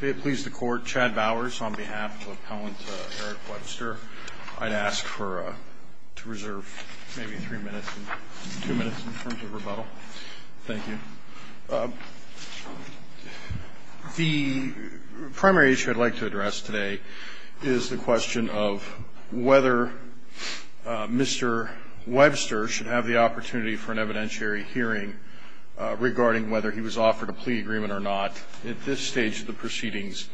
May it please the Court, Chad Bowers on behalf of Appellant Erik Webster. I'd ask to reserve maybe three minutes, two minutes in terms of rebuttal. Thank you. The primary issue I'd like to address today is the question of whether Mr. Webster should have the opportunity for an evidentiary hearing regarding whether he was offered a plea agreement or not at this stage of the proceedings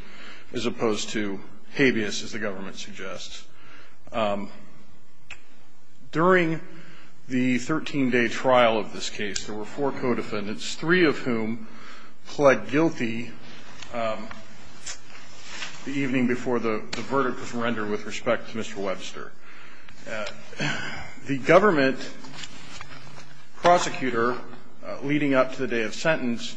as opposed to habeas, as the government suggests. During the 13-day trial of this case, there were four co-defendants, three of whom pled guilty the evening before the verdict was rendered with respect to Mr. Webster. The government prosecutor leading up to the day of sentence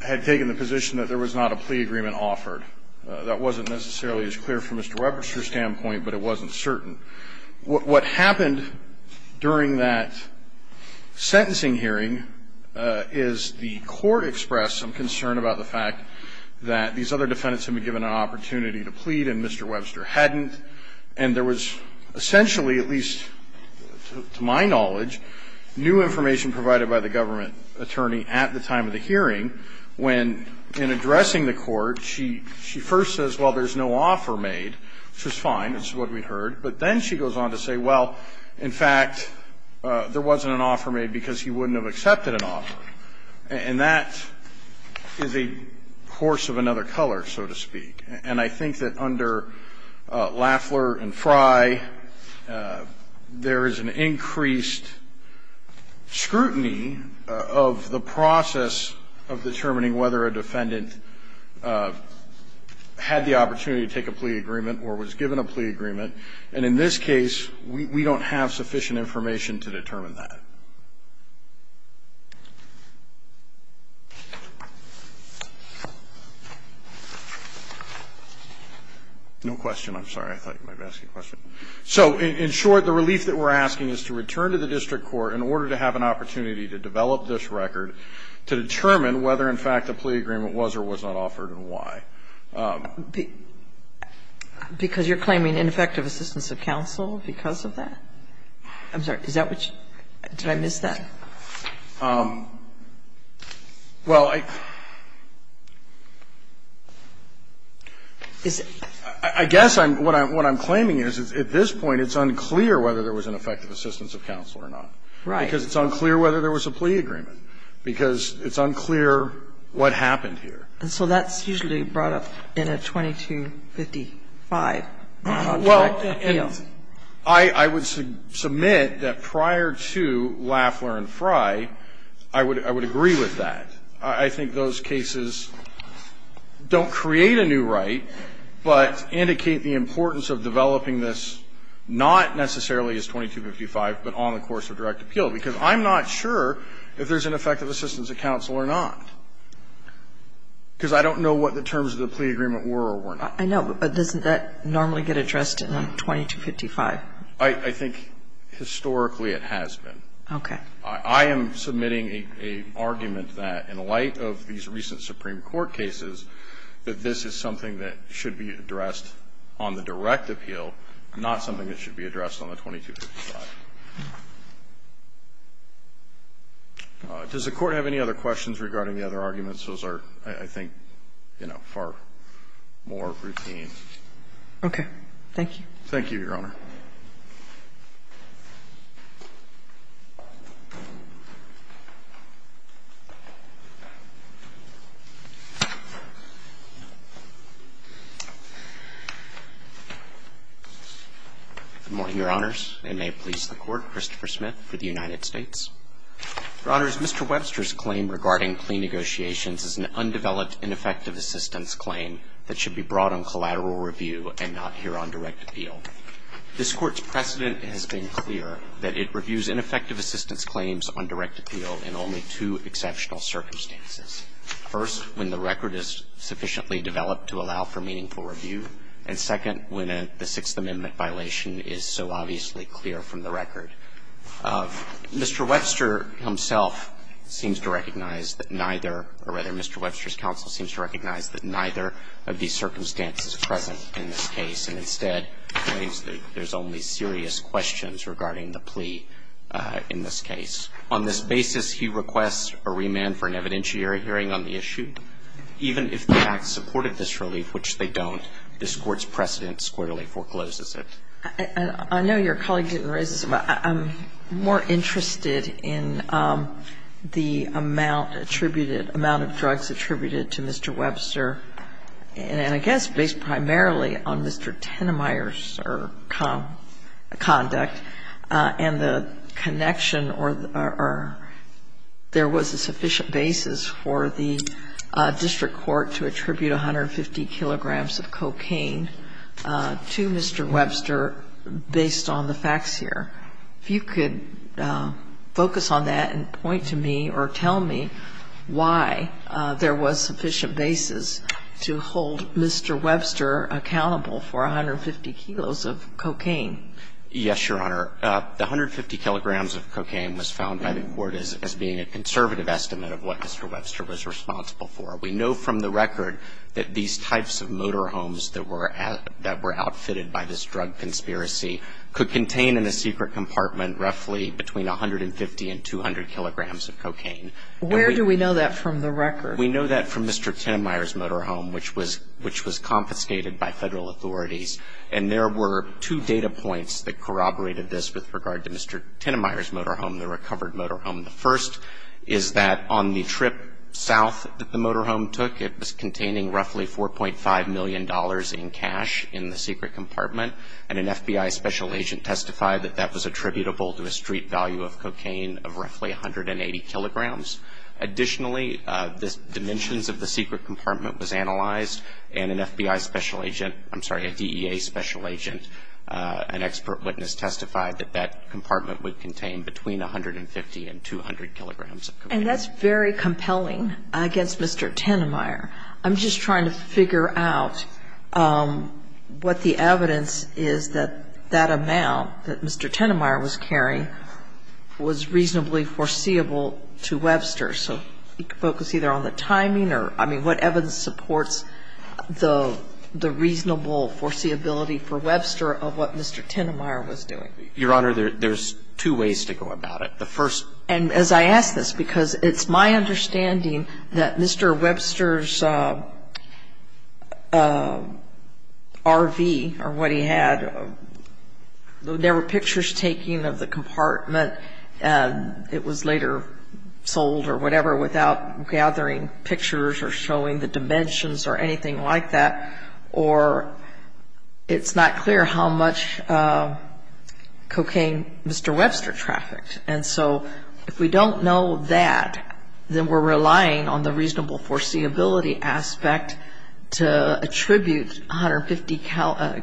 had taken the position that there was not a plea agreement offered. That wasn't necessarily as clear from Mr. Webster's standpoint, but it wasn't certain. What happened during that sentencing hearing is the Court expressed some concern about the fact that these other defendants had been given an opportunity to plead and Mr. Webster hadn't, and there was essentially, at least to my knowledge, new information provided by the government attorney at the time of the hearing when, in addressing the Court, she first says, well, there's no offer made, which is fine, it's what we heard, but then she goes on to say, well, in fact, there wasn't an offer made because he wouldn't have accepted an offer. And that is a course of another color, so to speak. And I think that under Lafler and Frye, there is an increased scrutiny of the process of determining whether a defendant had the opportunity to take a plea agreement or was given a plea agreement. And in this case, we don't have sufficient information to determine that. No question. I'm sorry. I thought you might be asking a question. So in short, the relief that we're asking is to return to the district court in order to have an opportunity to develop this record to determine whether, in fact, a plea agreement was or was not offered and why. Because you're claiming ineffective assistance of counsel because of that? I'm sorry. Is that what you – did I miss that? Well, I – I guess what I'm claiming is, at this point, it's unclear whether there was an effective assistance of counsel or not. Right. Because it's unclear whether there was a plea agreement. Because it's unclear what happened here. And so that's usually brought up in a 2255 on direct appeal. Well, and I would submit that prior to Lafler and Frye, I would agree with that. I think those cases don't create a new right, but indicate the importance of developing this not necessarily as 2255, but on the course of direct appeal. Because I'm not sure if there's an effective assistance of counsel or not, because I don't know what the terms of the plea agreement were or were not. I know, but doesn't that normally get addressed in a 2255? I think historically it has been. Okay. I am submitting an argument that, in light of these recent Supreme Court cases, that this is something that should be addressed on the direct appeal, not something that should be addressed on the 2255. Does the Court have any other questions regarding the other arguments? Those are, I think, you know, far more routine. Okay. Thank you. Thank you, Your Honor. Good morning, Your Honors, and may it please the Court, Christopher Smith with the United States. Your Honors, Mr. Webster's claim regarding plea negotiations is an undeveloped, ineffective assistance claim that should be brought on collateral review and not here on direct appeal. appeal. This Court's precedent has been clear that it reviews ineffective assistance claims on direct appeal in only two exceptional circumstances. First, when the record is sufficiently developed to allow for meaningful review. And second, when the Sixth Amendment violation is so obviously clear from the record. Mr. Webster himself seems to recognize that neither or, rather, Mr. Webster's counsel seems to recognize that neither of these circumstances are present in this case, and that there's only serious questions regarding the plea in this case. On this basis, he requests a remand for an evidentiary hearing on the issue. Even if the facts supported this relief, which they don't, this Court's precedent squarely forecloses it. I know your colleague didn't raise this, but I'm more interested in the amount attributed, amount of drugs attributed to Mr. Webster, and I guess based primarily on Mr. Tenenmaier's conduct, and the connection or there was a sufficient basis for the district court to attribute 150 kilograms of cocaine to Mr. Webster based on the facts here. If you could focus on that and point to me or tell me why there was sufficient basis to hold Mr. Webster accountable for 150 kilos of cocaine. Yes, Your Honor. The 150 kilograms of cocaine was found by the court as being a conservative estimate of what Mr. Webster was responsible for. We know from the record that these types of motorhomes that were outfitted by this drug conspiracy could contain in a secret compartment roughly between 150 and 200 kilograms of cocaine. Where do we know that from the record? We know that from Mr. Tenenmaier's motorhome, which was confiscated by Federal authorities. And there were two data points that corroborated this with regard to Mr. Tenenmaier's motorhome, the recovered motorhome. The first is that on the trip south that the motorhome took, it was containing roughly $4.5 million in cash in the secret compartment, and an FBI special agent testified that that was attributable to a street value of cocaine of roughly 180 kilograms. Additionally, the dimensions of the secret compartment was analyzed, and an FBI special agent – I'm sorry, a DEA special agent, an expert witness testified that that compartment would contain between 150 and 200 kilograms of cocaine. And that's very compelling against Mr. Tenenmaier. I'm just trying to figure out what the evidence is that that amount that Mr. Tenenmaier was carrying was reasonably foreseeable to Webster. So focus either on the timing or, I mean, what evidence supports the reasonable foreseeability for Webster of what Mr. Tenenmaier was doing? Your Honor, there's two ways to go about it. The first – And as I ask this, because it's my understanding that Mr. Webster's RV or what he had, there were pictures taken of the compartment. It was later sold or whatever without gathering pictures or showing the dimensions or anything like that. Or it's not clear how much cocaine Mr. Webster trafficked. And so if we don't know that, then we're relying on the reasonable foreseeability aspect to attribute 150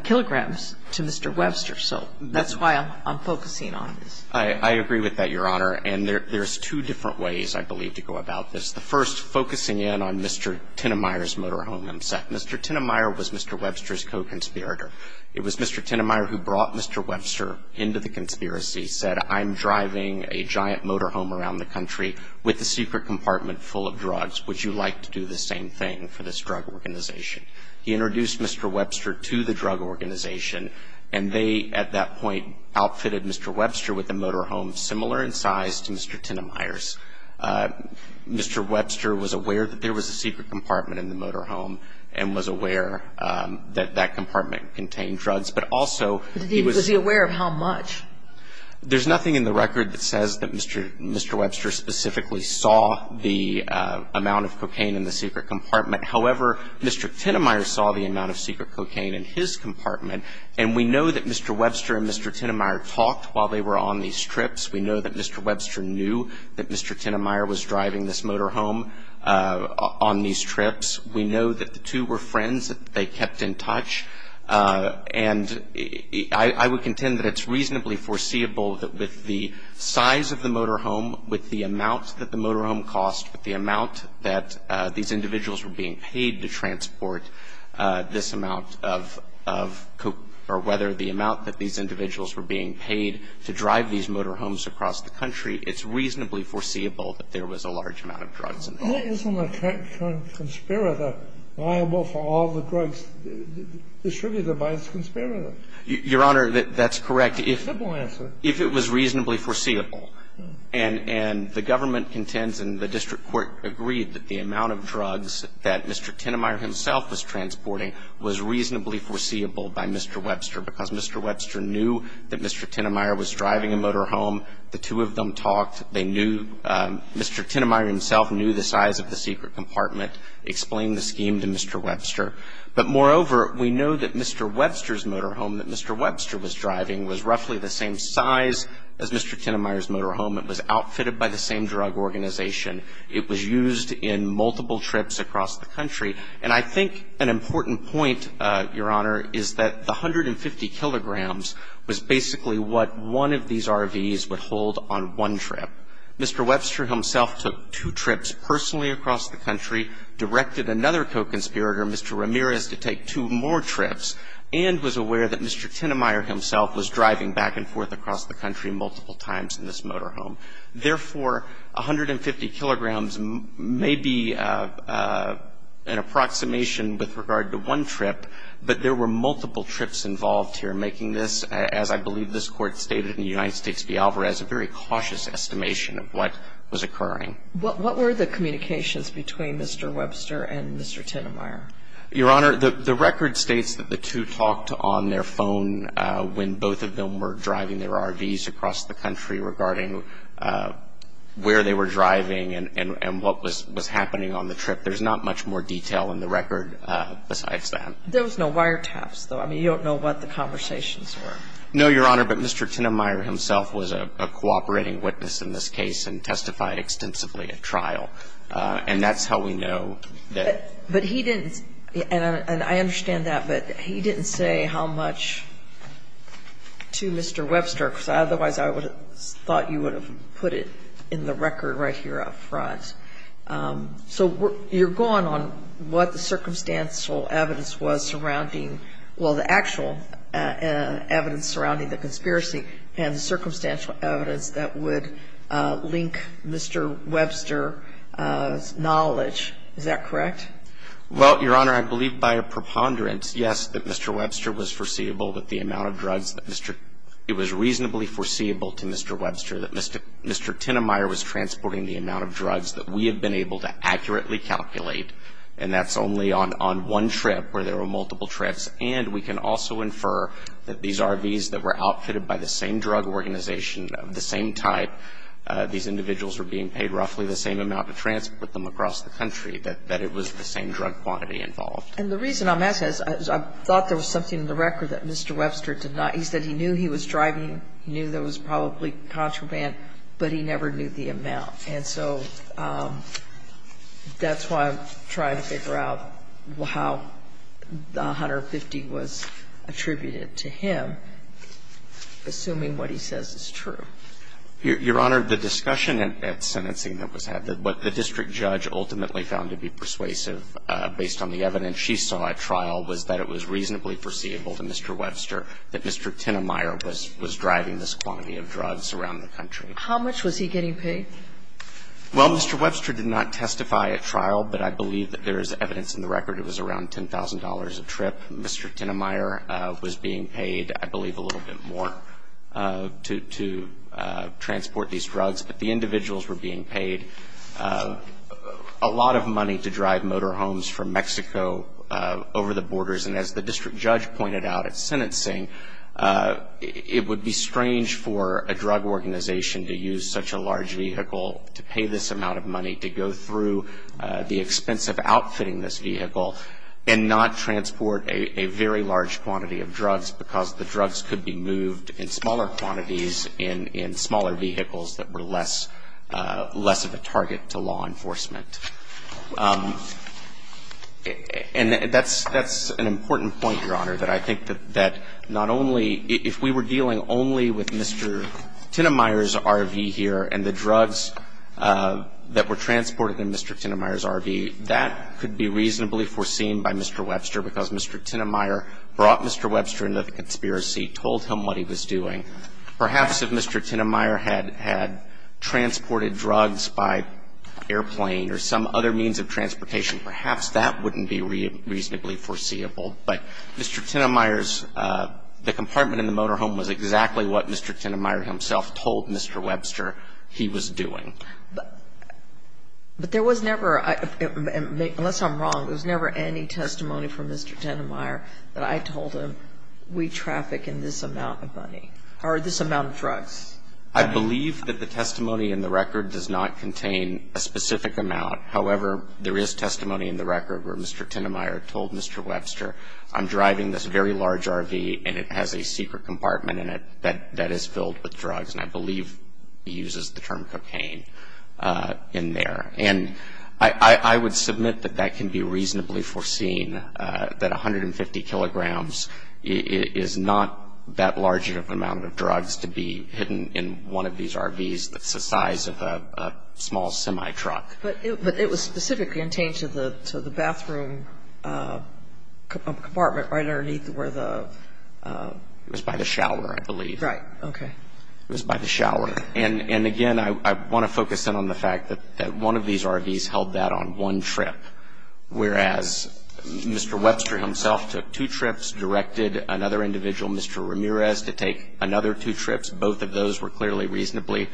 kilograms to Mr. Webster. So that's why I'm focusing on this. I agree with that, Your Honor. And there's two different ways, I believe, to go about this. The first, focusing in on Mr. Tenenmaier's motorhome. Mr. Tenenmaier was Mr. Webster's co-conspirator. It was Mr. Tenenmaier who brought Mr. Webster into the conspiracy, said I'm driving a giant motorhome around the country with a secret compartment full of drugs. Would you like to do the same thing for this drug organization? He introduced Mr. Webster to the drug organization, and they, at that point, outfitted Mr. Webster with a motorhome similar in size to Mr. Tenenmaier's. Mr. Webster was aware that there was a secret compartment in the motorhome and was aware that that compartment contained drugs. But also he was Was he aware of how much? There's nothing in the record that says that Mr. Webster specifically saw the amount of cocaine in the secret compartment. However, Mr. Tenenmaier saw the amount of secret cocaine in his compartment, and we know that Mr. Webster and Mr. Tenenmaier talked while they were on these trips. We know that Mr. Webster knew that Mr. Tenenmaier was driving this motorhome on these trips. We know that the two were friends, that they kept in touch. And I would contend that it's reasonably foreseeable that with the size of the motorhome, with the amount that the motorhome cost, with the amount that these individuals were being paid to transport this amount of cocaine, or whether the amount that these individuals were being paid to drive these motorhomes across the country, it's reasonably foreseeable that there was a large amount of drugs in there. But isn't a conspiracy liable for all the drugs distributed by this conspiracy? Your Honor, that's correct. Simple answer. If it was reasonably foreseeable. And the government contends and the district court agreed that the amount of drugs that Mr. Tenenmaier himself was transporting was reasonably foreseeable by Mr. Webster because Mr. Webster knew that Mr. Tenenmaier was driving a motorhome. The two of them talked. They knew Mr. Tenenmaier himself knew the size of the secret compartment, explained the scheme to Mr. Webster. But moreover, we know that Mr. Webster's motorhome that Mr. Webster was driving was roughly the same size as Mr. Tenenmaier's motorhome. It was outfitted by the same drug organization. It was used in multiple trips across the country. And I think an important point, Your Honor, is that the 150 kilograms was basically what one of these RVs would hold on one trip. Mr. Webster himself took two trips personally across the country, directed another co-conspirator, Mr. Ramirez, to take two more trips, and was aware that Mr. Tenenmaier himself was driving back and forth across the country multiple times in this motorhome. Therefore, 150 kilograms may be an approximation with regard to one trip, but there were multiple trips involved here making this, as I believe this Court stated in the United States v. Alvarez, a very cautious estimation of what was occurring. What were the communications between Mr. Webster and Mr. Tenenmaier? Your Honor, the record states that the two talked on their phone when both of them were driving their RVs across the country regarding where they were driving and what was happening on the trip. There's not much more detail in the record besides that. There was no wiretaps, though. I mean, you don't know what the conversations were. No, Your Honor, but Mr. Tenenmaier himself was a cooperating witness in this case and testified extensively at trial. And that's how we know that. But he didn't, and I understand that, but he didn't say how much to Mr. Webster, because otherwise I would have thought you would have put it in the record right here up front. So you're going on what the circumstantial evidence was surrounding, well, the actual evidence surrounding the conspiracy and the circumstantial evidence that would link Mr. Webster's knowledge. Is that correct? Well, Your Honor, I believe by a preponderance, yes, that Mr. Webster was foreseeable that the amount of drugs that Mr. — it was reasonably foreseeable to Mr. Webster that Mr. Tenenmaier was transporting the amount of drugs that we have been able to accurately calculate, and that's only on one trip where there were multiple trips, and we can also infer that these RVs that were outfitted by the same drug organization of the same type, these individuals were being paid roughly the same amount to transport them across the country, that it was the same drug quantity involved. And the reason I'm asking is I thought there was something in the record that Mr. Webster did not — he said he knew he was driving, he knew there was probably contraband, but he never knew the amount. And so that's why I'm trying to figure out how the 150 was attributed to him, assuming what he says is true. Your Honor, the discussion at sentencing that was had, what the district judge ultimately found to be persuasive, based on the evidence she saw at trial, was that it was reasonably foreseeable to Mr. Webster that Mr. Tenenmaier was driving this quantity of drugs around the country. How much was he getting paid? Well, Mr. Webster did not testify at trial, but I believe that there is evidence in the record it was around $10,000 a trip. Mr. Tenenmaier was being paid, I believe, a little bit more to transport these motorhomes from Mexico over the borders. And as the district judge pointed out at sentencing, it would be strange for a drug organization to use such a large vehicle to pay this amount of money to go through the expense of outfitting this vehicle and not transport a very large quantity of drugs because the drugs could be moved in smaller quantities in smaller vehicles that were less of a target to law enforcement. And that's an important point, Your Honor, that I think that not only — if we were dealing only with Mr. Tenenmaier's RV here and the drugs that were transported in Mr. Tenenmaier's RV, that could be reasonably foreseen by Mr. Webster because Mr. Tenenmaier brought Mr. Webster into the conspiracy, told him what he was doing. Perhaps if Mr. Tenenmaier had transported drugs by airplane or some other means of transportation, perhaps that wouldn't be reasonably foreseeable. But Mr. Tenenmaier's — the compartment in the motorhome was exactly what Mr. Tenenmaier himself told Mr. Webster he was doing. But there was never, unless I'm wrong, there was never any testimony from Mr. Tenenmaier that I told him we traffic in this amount of money or this amount of drugs. I believe that the testimony in the record does not contain a specific amount. However, there is testimony in the record where Mr. Tenenmaier told Mr. Webster, I'm driving this very large RV and it has a secret compartment in it that is filled with drugs, and I believe he uses the term cocaine in there. And I would submit that that can be reasonably foreseen, that 150 kilograms is not that large of an amount of drugs to be hidden in one of these RVs that's the size of a small semi-truck. But it was specifically intained to the bathroom compartment right underneath where the — It was by the shower, I believe. Right. Okay. It was by the shower. And, again, I want to focus in on the fact that one of these RVs held that on one trip, whereas Mr. Webster himself took two trips, directed another individual, Mr. Ramirez, to take another two trips. Both of those were clearly reasonably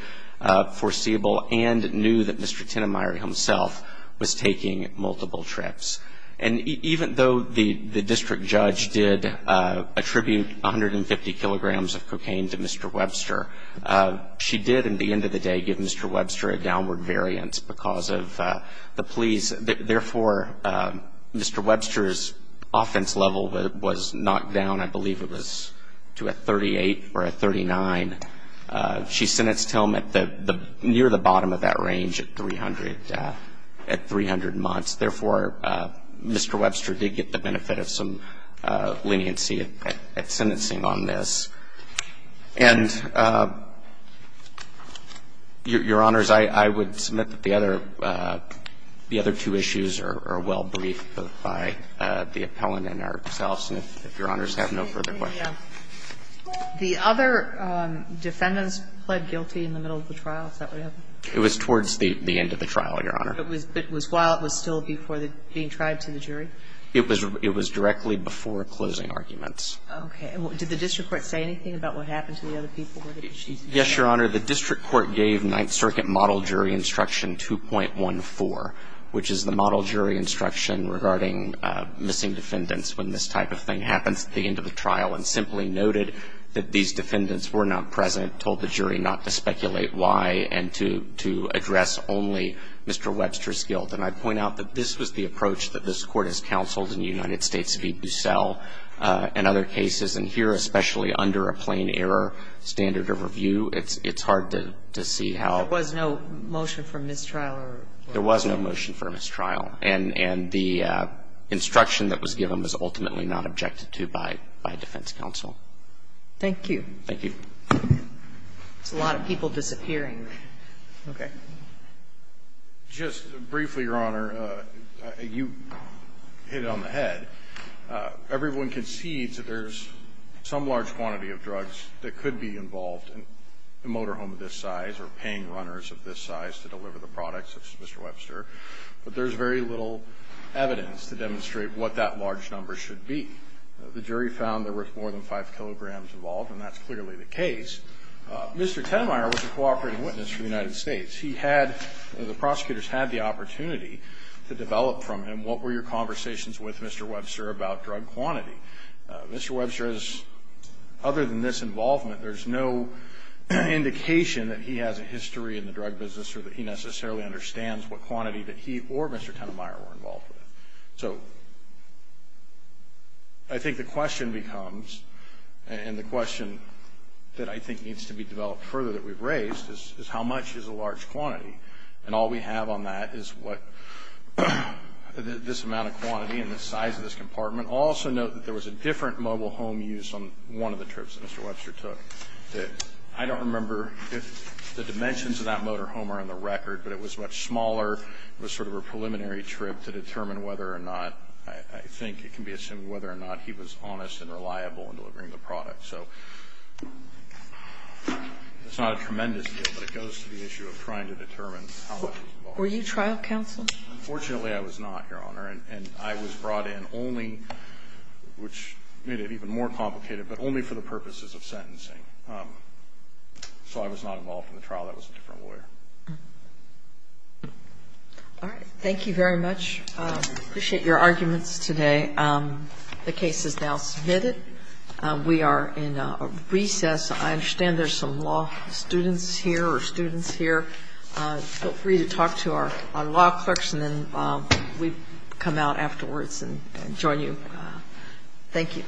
foreseeable and knew that Mr. Tenenmaier himself was taking multiple trips. And even though the district judge did attribute 150 kilograms of cocaine to Mr. Webster, she did, in the end of the day, give Mr. Webster a downward variance because of the pleas. Therefore, Mr. Webster's offense level was knocked down, I believe it was, to a 38 or a 39. She sentenced him near the bottom of that range at 300 months. Therefore, Mr. Webster did get the benefit of some leniency at sentencing on this. And, Your Honors, I would submit that the other two issues are well briefed by the appellant and ourselves, if Your Honors have no further questions. The other defendants pled guilty in the middle of the trial. Is that what happened? It was towards the end of the trial, Your Honor. It was while it was still before being tried to the jury? It was directly before closing arguments. Okay. Did the district court say anything about what happened to the other people? Yes, Your Honor. The district court gave Ninth Circuit model jury instruction 2.14, which is the model jury instruction regarding missing defendants when this type of thing happens at the end of the trial, and simply noted that these defendants were not present, told the jury not to speculate why, and to address only Mr. Webster's guilt. And I point out that this was the approach that this Court has counseled in the United States in a number of cases, and here, especially under a plain error standard of review, it's hard to see how. There was no motion for mistrial or what? There was no motion for mistrial. And the instruction that was given was ultimately not objected to by defense counsel. Thank you. Thank you. There's a lot of people disappearing. Okay. Just briefly, Your Honor, you hit it on the head. Everyone concedes that there's some large quantity of drugs that could be involved in a motorhome of this size or paying runners of this size to deliver the products of Mr. Webster, but there's very little evidence to demonstrate what that large number should be. The jury found there was more than 5 kilograms involved, and that's clearly the case. Mr. Tenmaier was a cooperating witness for the United States. He had the prosecutors had the opportunity to develop from him what were your thoughts, Mr. Webster, about drug quantity? Mr. Webster is, other than this involvement, there's no indication that he has a history in the drug business or that he necessarily understands what quantity that he or Mr. Tenmaier were involved with. So I think the question becomes, and the question that I think needs to be developed further that we've raised, is how much is a large quantity? And all we have on that is what this amount of quantity and the size of this compartment. Also note that there was a different mobile home used on one of the trips that Mr. Webster took. I don't remember if the dimensions of that motorhome are on the record, but it was much smaller. It was sort of a preliminary trip to determine whether or not, I think it can be assumed, whether or not he was honest and reliable in delivering the product. So it's not a tremendous deal, but it goes to the issue of trying to determine how much was involved. Were you trial counsel? Unfortunately, I was not, Your Honor, and I was brought in only, which made it even more complicated, but only for the purposes of sentencing. So I was not involved in the trial. That was a different lawyer. All right. Thank you very much. I appreciate your arguments today. The case is now submitted. We are in recess. I understand there's some law students here or students here. Feel free to talk to our law clerks, and then we'll come out afterwards and join you. Thank you.